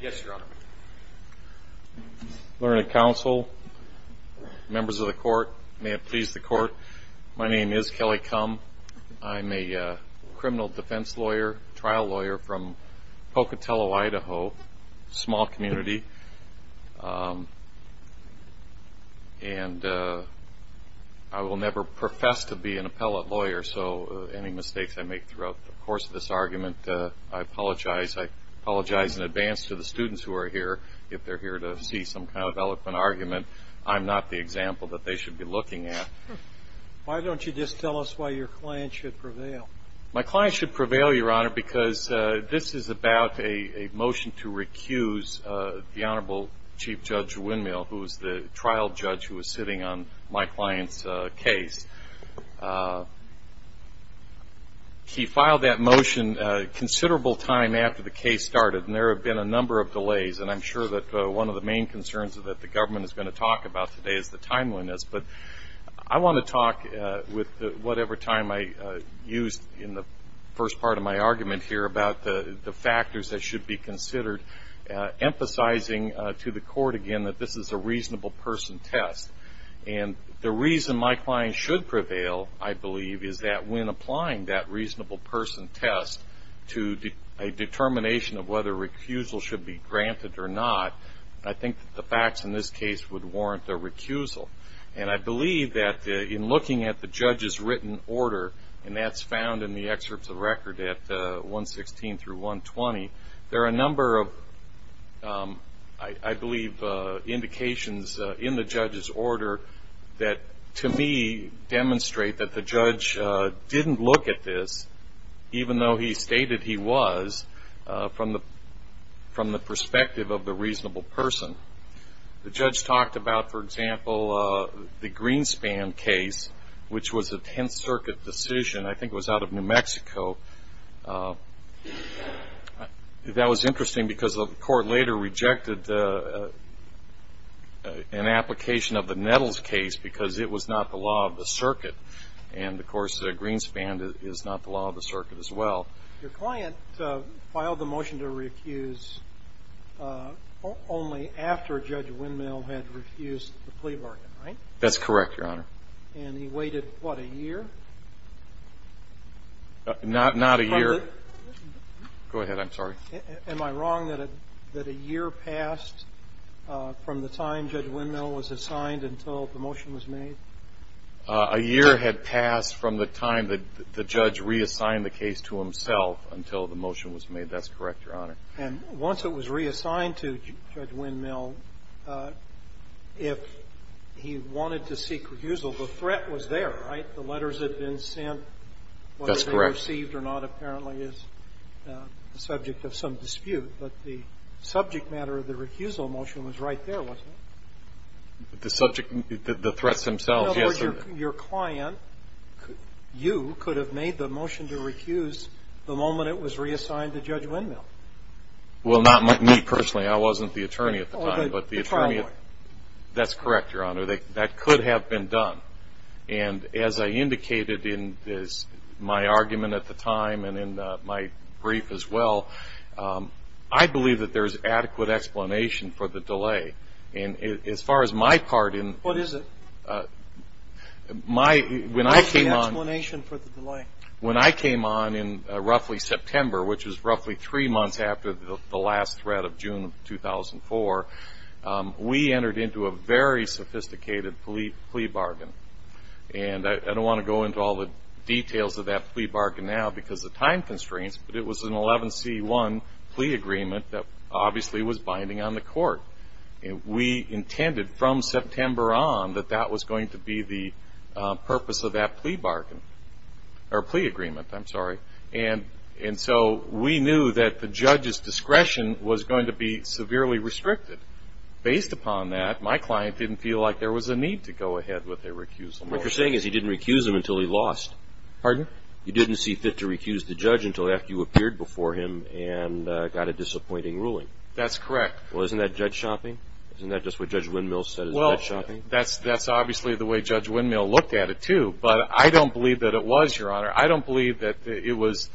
Yes, Your Honor. Learned Counsel, members of the court, may it please the court. My name is Kelly Kum. I'm a criminal defense lawyer, trial lawyer from Pocatello, Idaho, small community. And I will never profess to be an appellate lawyer, so any mistakes I make throughout the course of this argument, I apologize. I apologize in advance to the students who are here. If they're here to see some kind of eloquent argument, I'm not the example that they should be looking at. Why don't you just tell us why your client should prevail? My client should prevail, Your Honor, because this is about a motion to recuse the Honorable Chief Judge Windmill, who was the trial judge who was sitting on my client's case. He filed that motion a considerable time after the case started, and there have been a number of delays. And I'm sure that one of the main concerns that the government is going to talk about today is the timeliness. But I want to talk with whatever time I used in the first part of my argument here about the factors that should be considered, emphasizing to the court, again, that this is a reasonable person test. And the reason my client should prevail, I believe, is that when applying that reasonable person test to a determination of whether recusal should be granted or not, I think the facts in this case would warrant a recusal. And I believe that in looking at the judge's written order, and that's found in the excerpts of record at 116 through 120, there are a number of, I believe, indications in the judge's order that to me demonstrate that the judge didn't look at this, even though he stated he was, from the perspective of the reasonable person. The judge talked about, for example, the Greenspan case, which was a Tenth Circuit decision. I think it was out of New Mexico. That was interesting because the court later rejected an application of the Nettles case because it was not the law of the circuit. And, of course, Greenspan is not the law of the circuit as well. Your client filed the motion to recuse only after Judge Windmill had refused the plea bargain, right? That's correct, Your Honor. And he waited, what, a year? Not a year. Go ahead. I'm sorry. Am I wrong that a year passed from the time Judge Windmill was assigned until the motion was made? A year had passed from the time the judge reassigned the case to himself until the motion was made. That's correct, Your Honor. And once it was reassigned to Judge Windmill, if he wanted to seek recusal, the threat was there, right? The letters had been sent. That's correct. Whether they were received or not apparently is the subject of some dispute. But the subject matter of the recusal motion was right there, wasn't it? The subject, the threats themselves, yes. Your client, you, could have made the motion to recuse the moment it was reassigned to Judge Windmill. Well, not me personally. I wasn't the attorney at the time. Oh, the trial lawyer. That's correct, Your Honor. That could have been done. And as I indicated in my argument at the time and in my brief as well, I believe that there's adequate explanation for the delay. And as far as my part in this. What is it? My, when I came on. What's the explanation for the delay? When I came on in roughly September, which was roughly three months after the last threat of June of 2004, we entered into a very sophisticated plea bargain. And I don't want to go into all the details of that plea bargain now because of time constraints, but it was an 11C1 plea agreement that obviously was binding on the court. We intended from September on that that was going to be the purpose of that plea bargain, or plea agreement, I'm sorry. And so we knew that the judge's discretion was going to be severely restricted. Based upon that, my client didn't feel like there was a need to go ahead with a recusal motion. What you're saying is he didn't recuse him until he lost. Pardon? You didn't see fit to recuse the judge until after you appeared before him and got a disappointing ruling. That's correct. Well, isn't that judge shopping? Isn't that just what Judge Windmill said is judge shopping? Well, that's obviously the way Judge Windmill looked at it, too. But I don't believe that it was, Your Honor. I don't believe that it was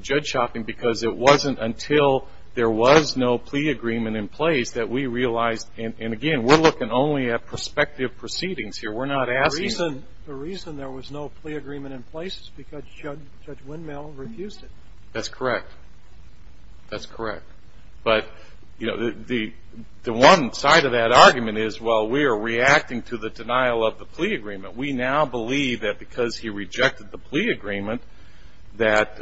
judge shopping because it wasn't until there was no plea agreement in place that we realized, and again, we're looking only at prospective proceedings here. We're not asking. The reason there was no plea agreement in place is because Judge Windmill refused it. That's correct. That's correct. But, you know, the one side of that argument is, well, we are reacting to the denial of the plea agreement. We now believe that because he rejected the plea agreement that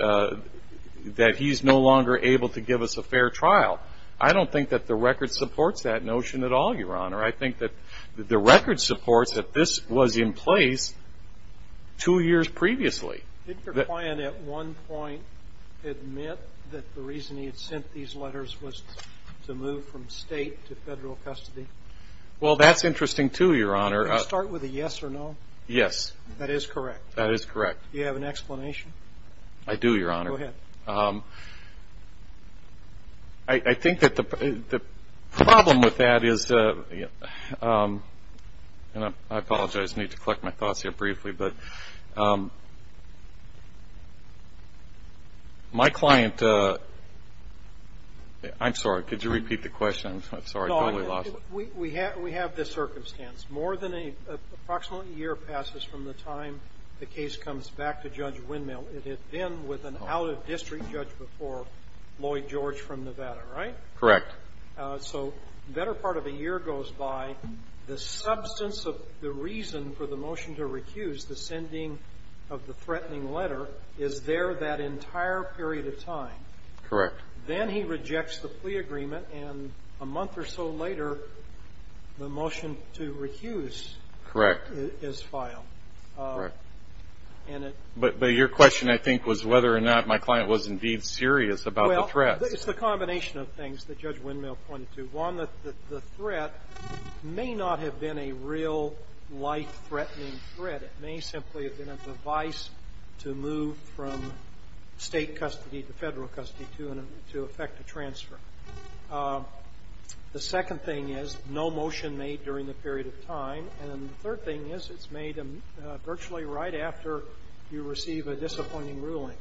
he's no longer able to give us a fair trial. I don't think that the record supports that notion at all, Your Honor. I think that the record supports that this was in place two years previously. Didn't your client at one point admit that the reason he had sent these letters was to move from state to federal custody? Well, that's interesting, too, Your Honor. Can you start with a yes or no? Yes. That is correct. That is correct. Do you have an explanation? I do, Your Honor. Go ahead. I think that the problem with that is, and I apologize. I need to collect my thoughts here briefly. But my client, I'm sorry. Could you repeat the question? I'm sorry. I totally lost it. We have this circumstance. More than approximately a year passes from the time the case comes back to Judge Windmill. It had been with an out-of-district judge before, Lloyd George from Nevada, right? Correct. So the better part of a year goes by. The substance of the reason for the motion to recuse, the sending of the threatening letter, is there that entire period of time. Correct. Then he rejects the plea agreement, and a month or so later, the motion to recuse is filed. Correct. But your question, I think, was whether or not my client was indeed serious about the threat. Well, it's the combination of things that Judge Windmill pointed to. One, the threat may not have been a real life-threatening threat. It may simply have been a device to move from state custody to federal custody to effect a transfer. The second thing is no motion made during the period of time. And the third thing is it's made virtually right after you receive a disappointing ruling.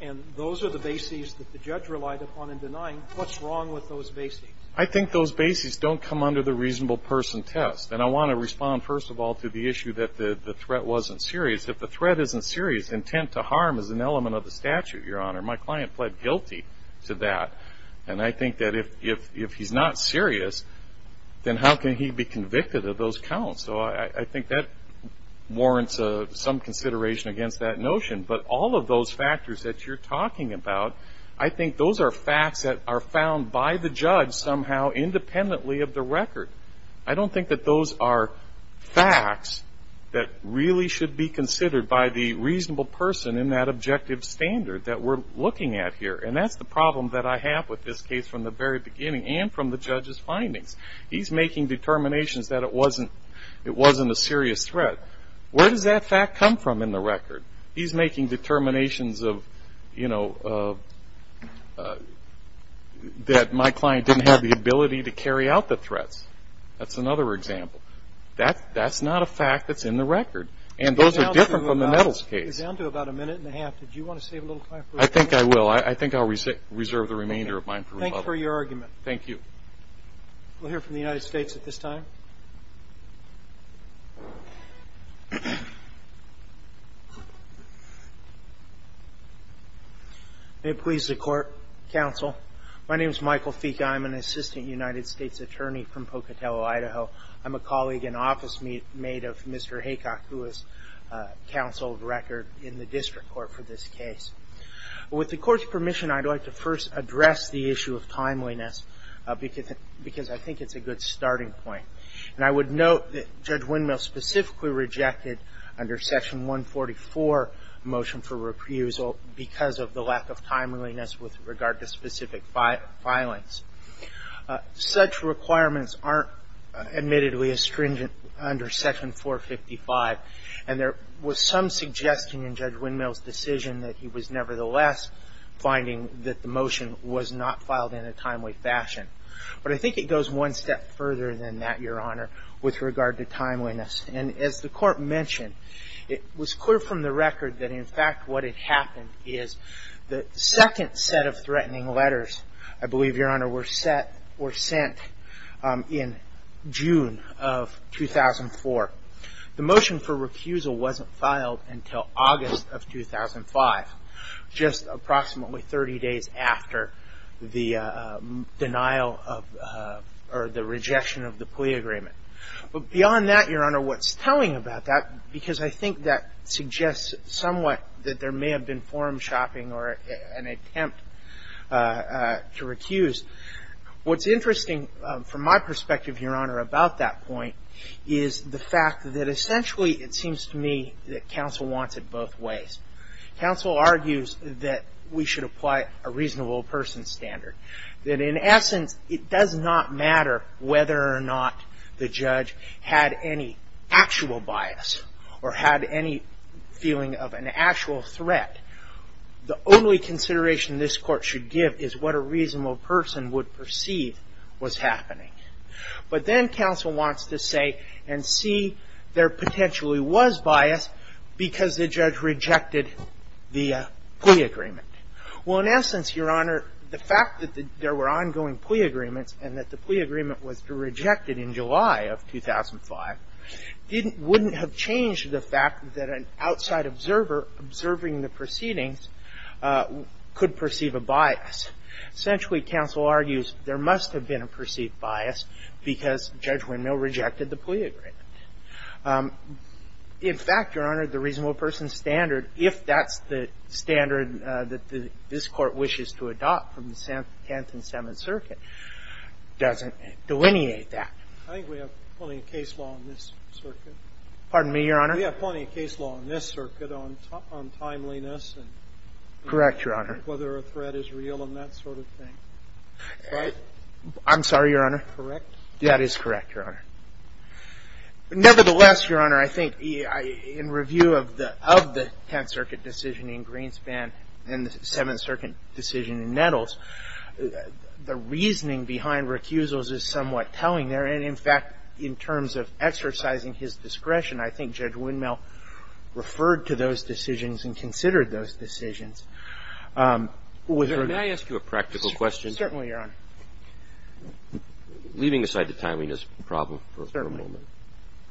And those are the bases that the judge relied upon in denying what's wrong with those bases. I think those bases don't come under the reasonable person test. And I want to respond, first of all, to the issue that the threat wasn't serious. If the threat isn't serious, intent to harm is an element of the statute, Your Honor. My client pled guilty to that. And I think that if he's not serious, then how can he be convicted of those counts? So I think that warrants some consideration against that notion. But all of those factors that you're talking about, I think those are facts that are found by the judge somehow independently of the record. I don't think that those are facts that really should be considered by the reasonable person in that objective standard that we're looking at here. And that's the problem that I have with this case from the very beginning and from the judge's findings. He's making determinations that it wasn't a serious threat. Where does that fact come from in the record? He's making determinations of, you know, that my client didn't have the ability to carry out the threats. That's another example. That's not a fact that's in the record. And those are different from the Nettles case. We're down to about a minute and a half. Do you want to save a little time for rebuttal? I think I will. I think I'll reserve the remainder of mine for rebuttal. Thank you for your argument. Thank you. We'll hear from the United States at this time. May it please the court, counsel. My name is Michael Fica. I'm an assistant United States attorney from Pocatello, Idaho. I'm a colleague and office mate of Mr. Haycock, who is counsel of record in the district court for this case. With the court's permission, I'd like to first address the issue of timeliness, because I think it's a good starting point. And I would note that Judge Windmill specifically rejected under Section 144 motion for reprisal because of the lack of timeliness with regard to specific violence. Such requirements aren't, admittedly, as stringent under Section 455. And there was some suggestion in Judge Windmill's decision that he was, nevertheless, finding that the motion was not filed in a timely fashion. But I think it goes one step further than that, Your Honor, with regard to timeliness. And as the court mentioned, it was clear from the record that, in fact, what had happened is the second set of threatening letters, I believe, Your Honor, were sent in June of 2004. The motion for refusal wasn't filed until August of 2005, just approximately 30 days after the denial of or the rejection of the plea agreement. But beyond that, Your Honor, what's telling about that, because I think that suggests somewhat that there may have been forum shopping or an attempt to recuse, what's interesting from my perspective, Your Honor, about that point is the fact that, essentially, it seems to me that counsel wants it both ways. Counsel argues that we should apply a reasonable person standard, that, in essence, it does not matter whether or not the judge had any actual bias or had any feeling of an actual threat. The only consideration this court should give is what a reasonable person would perceive was happening. But then counsel wants to say and see there potentially was bias because the judge rejected the plea agreement. Well, in essence, Your Honor, the fact that there were ongoing plea agreements and that the plea agreement was rejected in July of 2005 wouldn't have changed the fact that an outside observer observing the proceedings could perceive a bias. Essentially, counsel argues there must have been a perceived bias because Judge Windmill rejected the plea agreement. In fact, Your Honor, the reasonable person standard, if that's the standard that this Court wishes to adopt from the 10th and 7th Circuit, doesn't delineate that. I think we have plenty of case law in this circuit. Pardon me, Your Honor? We have plenty of case law in this circuit on timeliness and whether a threat is real and that sort of thing. I'm sorry, Your Honor. Correct? That is correct, Your Honor. Nevertheless, Your Honor, I think in review of the 10th Circuit decision in Greenspan and the 7th Circuit decision in Nettles, the reasoning behind recusals is somewhat telling there. And in fact, in terms of exercising his discretion, I think Judge Windmill referred to those decisions and considered those decisions. May I ask you a practical question? Certainly, Your Honor. Leaving aside the timeliness problem for a moment,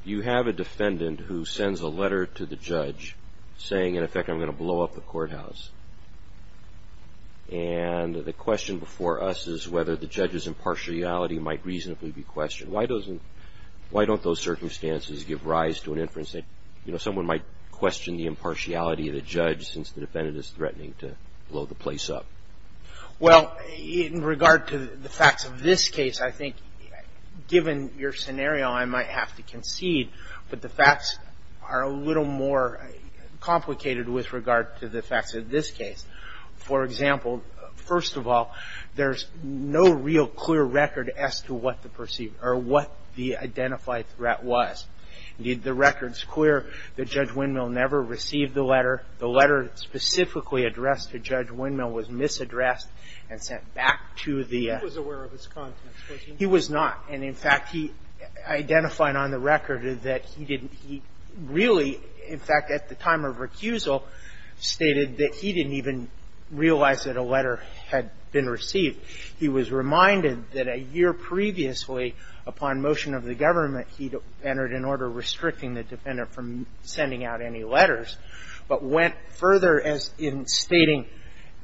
you have a defendant who sends a letter to the judge saying, in effect, I'm going to blow up the courthouse. And the question before us is whether the judge's impartiality might reasonably be questioned. Why don't those circumstances give rise to an inference that, you know, someone might question the impartiality of the judge since the defendant is threatening to blow the place up? Well, in regard to the facts of this case, I think given your scenario, I might have to concede. But the facts are a little more complicated with regard to the facts of this case. For example, first of all, there's no real clear record as to what the perceived or what the identified threat was. Indeed, the record's clear that Judge Windmill never received the letter. The letter specifically addressed to Judge Windmill was misaddressed and sent back to the ---- He was aware of its contents, wasn't he? He was not. And, in fact, he identified on the record that he didn't he really, in fact, at the time of recusal, stated that he didn't even realize that a letter had been received. He was reminded that a year previously, upon motion of the government, he entered an order restricting the defendant from sending out any letters. But went further as in stating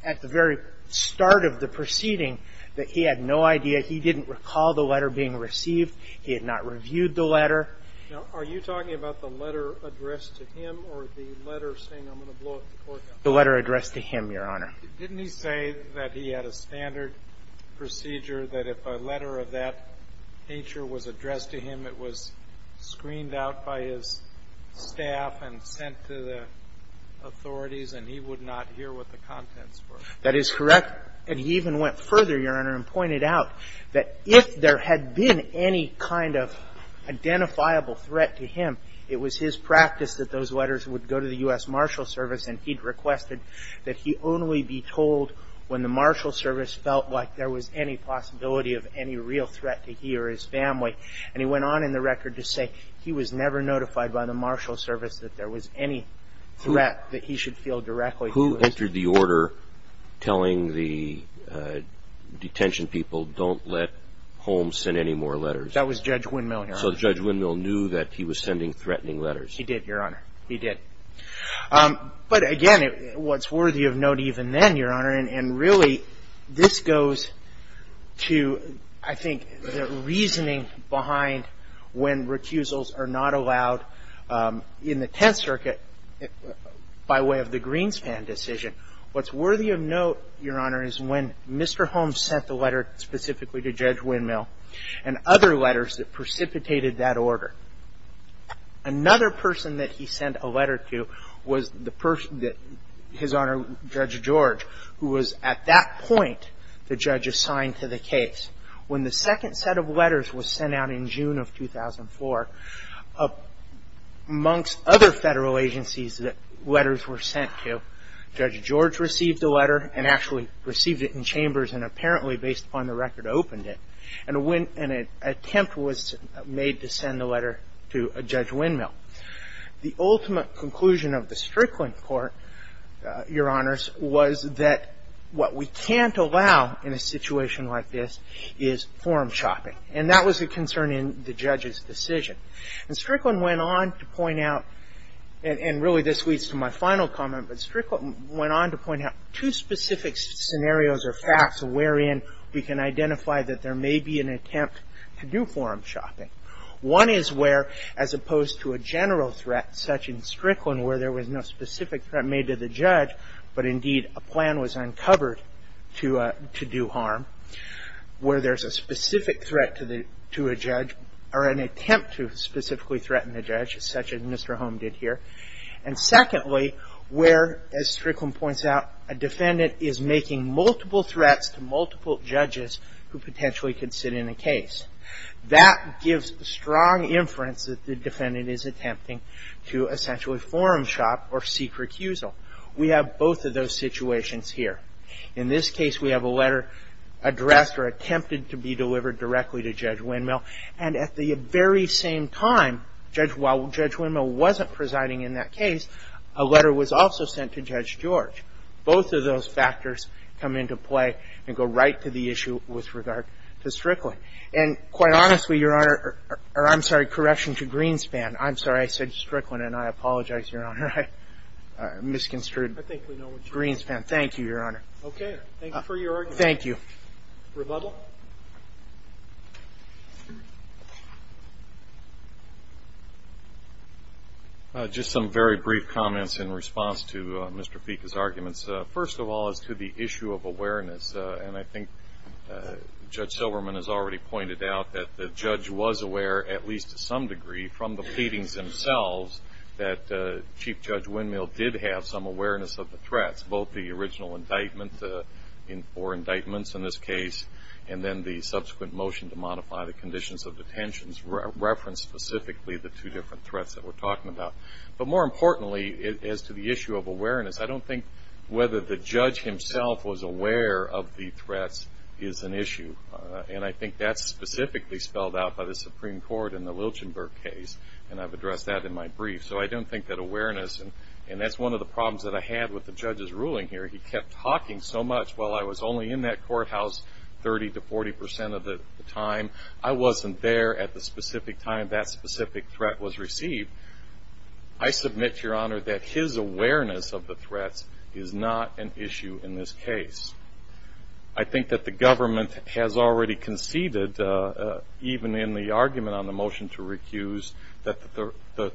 at the very start of the proceeding that he had no idea. He didn't recall the letter being received. He had not reviewed the letter. Now, are you talking about the letter addressed to him or the letter saying, I'm going to blow up the courthouse? The letter addressed to him, Your Honor. Didn't he say that he had a standard procedure that if a letter of that nature was addressed to him, it was screened out by his staff and sent to the authorities and he would not hear what the contents were? That is correct. And he even went further, Your Honor, and pointed out that if there had been any kind of identifiable threat to him, it was his practice that those letters would go to the U.S. Marshal Service and he'd requested that he only be told when the Marshal Service felt like there was any possibility of any real threat to he or his family. And he went on in the record to say he was never notified by the Marshal Service that there was any threat that he should feel directly. Who entered the order telling the detention people don't let Holmes send any more letters? That was Judge Windmill, Your Honor. So Judge Windmill knew that he was sending threatening letters? He did, Your Honor. He did. But, again, what's worthy of note even then, Your Honor, and really this goes to, I think, the reasoning behind when recusals are not allowed in the Tenth Circuit by way of the Greenspan decision. What's worthy of note, Your Honor, is when Mr. Holmes sent the letter specifically to Judge Windmill and other letters that precipitated that order. Another person that he sent a letter to was his Honor, Judge George, who was at that point the judge assigned to the case. When the second set of letters was sent out in June of 2004, amongst other federal agencies that letters were sent to, Judge George received a letter and actually received it in chambers and apparently, based upon the record, opened it. And an attempt was made to send the letter to Judge Windmill. The ultimate conclusion of the Strickland Court, Your Honors, was that what we can't allow in a situation like this is form shopping. And that was a concern in the judge's decision. And Strickland went on to point out, and really this leads to my final comment, but Strickland went on to point out two specific scenarios or facts wherein we can identify that there may be an attempt to do form shopping. One is where, as opposed to a general threat, such in Strickland, where there was no specific threat made to the judge, but indeed a plan was uncovered to do harm, where there's a specific threat to a judge or an attempt to specifically threaten the judge, such as Mr. Holmes did here. And secondly, where, as Strickland points out, a defendant is making multiple threats to multiple judges who potentially could sit in a case. That gives strong inference that the defendant is attempting to essentially form shop or seek recusal. We have both of those situations here. In this case, we have a letter addressed or attempted to be delivered directly to Judge Windmill. And at the very same time, while Judge Windmill wasn't presiding in that case, a letter was also sent to Judge George. Both of those factors come into play and go right to the issue with regard to Strickland. And quite honestly, Your Honor, or I'm sorry, correction to Greenspan. I'm sorry. I said Strickland, and I apologize, Your Honor. I misconstrued Greenspan. Thank you, Your Honor. Okay. Thank you for your argument. Thank you. Rebuttal? Rebuttal? Just some very brief comments in response to Mr. Fieke's arguments. First of all, as to the issue of awareness, and I think Judge Silverman has already pointed out that the judge was aware, at least to some degree, from the pleadings themselves that Chief Judge Windmill did have some awareness of the threats, both the original indictment, or indictments in this case, and then the subsequent motion to modify the conditions of detentions referenced specifically the two different threats that we're talking about. But more importantly, as to the issue of awareness, I don't think whether the judge himself was aware of the threats is an issue. And I think that's specifically spelled out by the Supreme Court in the Lilchenberg case, and I've addressed that in my brief. So I don't think that awareness, and that's one of the problems that I had with the judge's ruling here. He kept talking so much while I was only in that courthouse 30% to 40% of the time. I wasn't there at the specific time that specific threat was received. I submit, Your Honor, that his awareness of the threats is not an issue in this case. I think that the government has already conceded, even in the argument on the motion to recuse, that the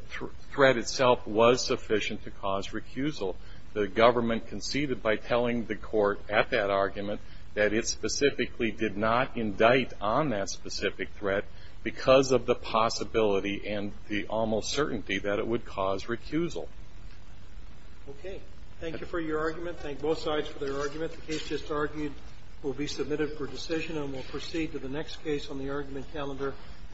threat itself was sufficient to cause recusal. The government conceded by telling the court at that argument that it specifically did not indict on that specific threat because of the possibility and the almost certainty that it would cause recusal. Okay. Thank you for your argument. Thank both sides for their argument. The case just argued will be submitted for decision, and we'll proceed to the next case on the argument calendar.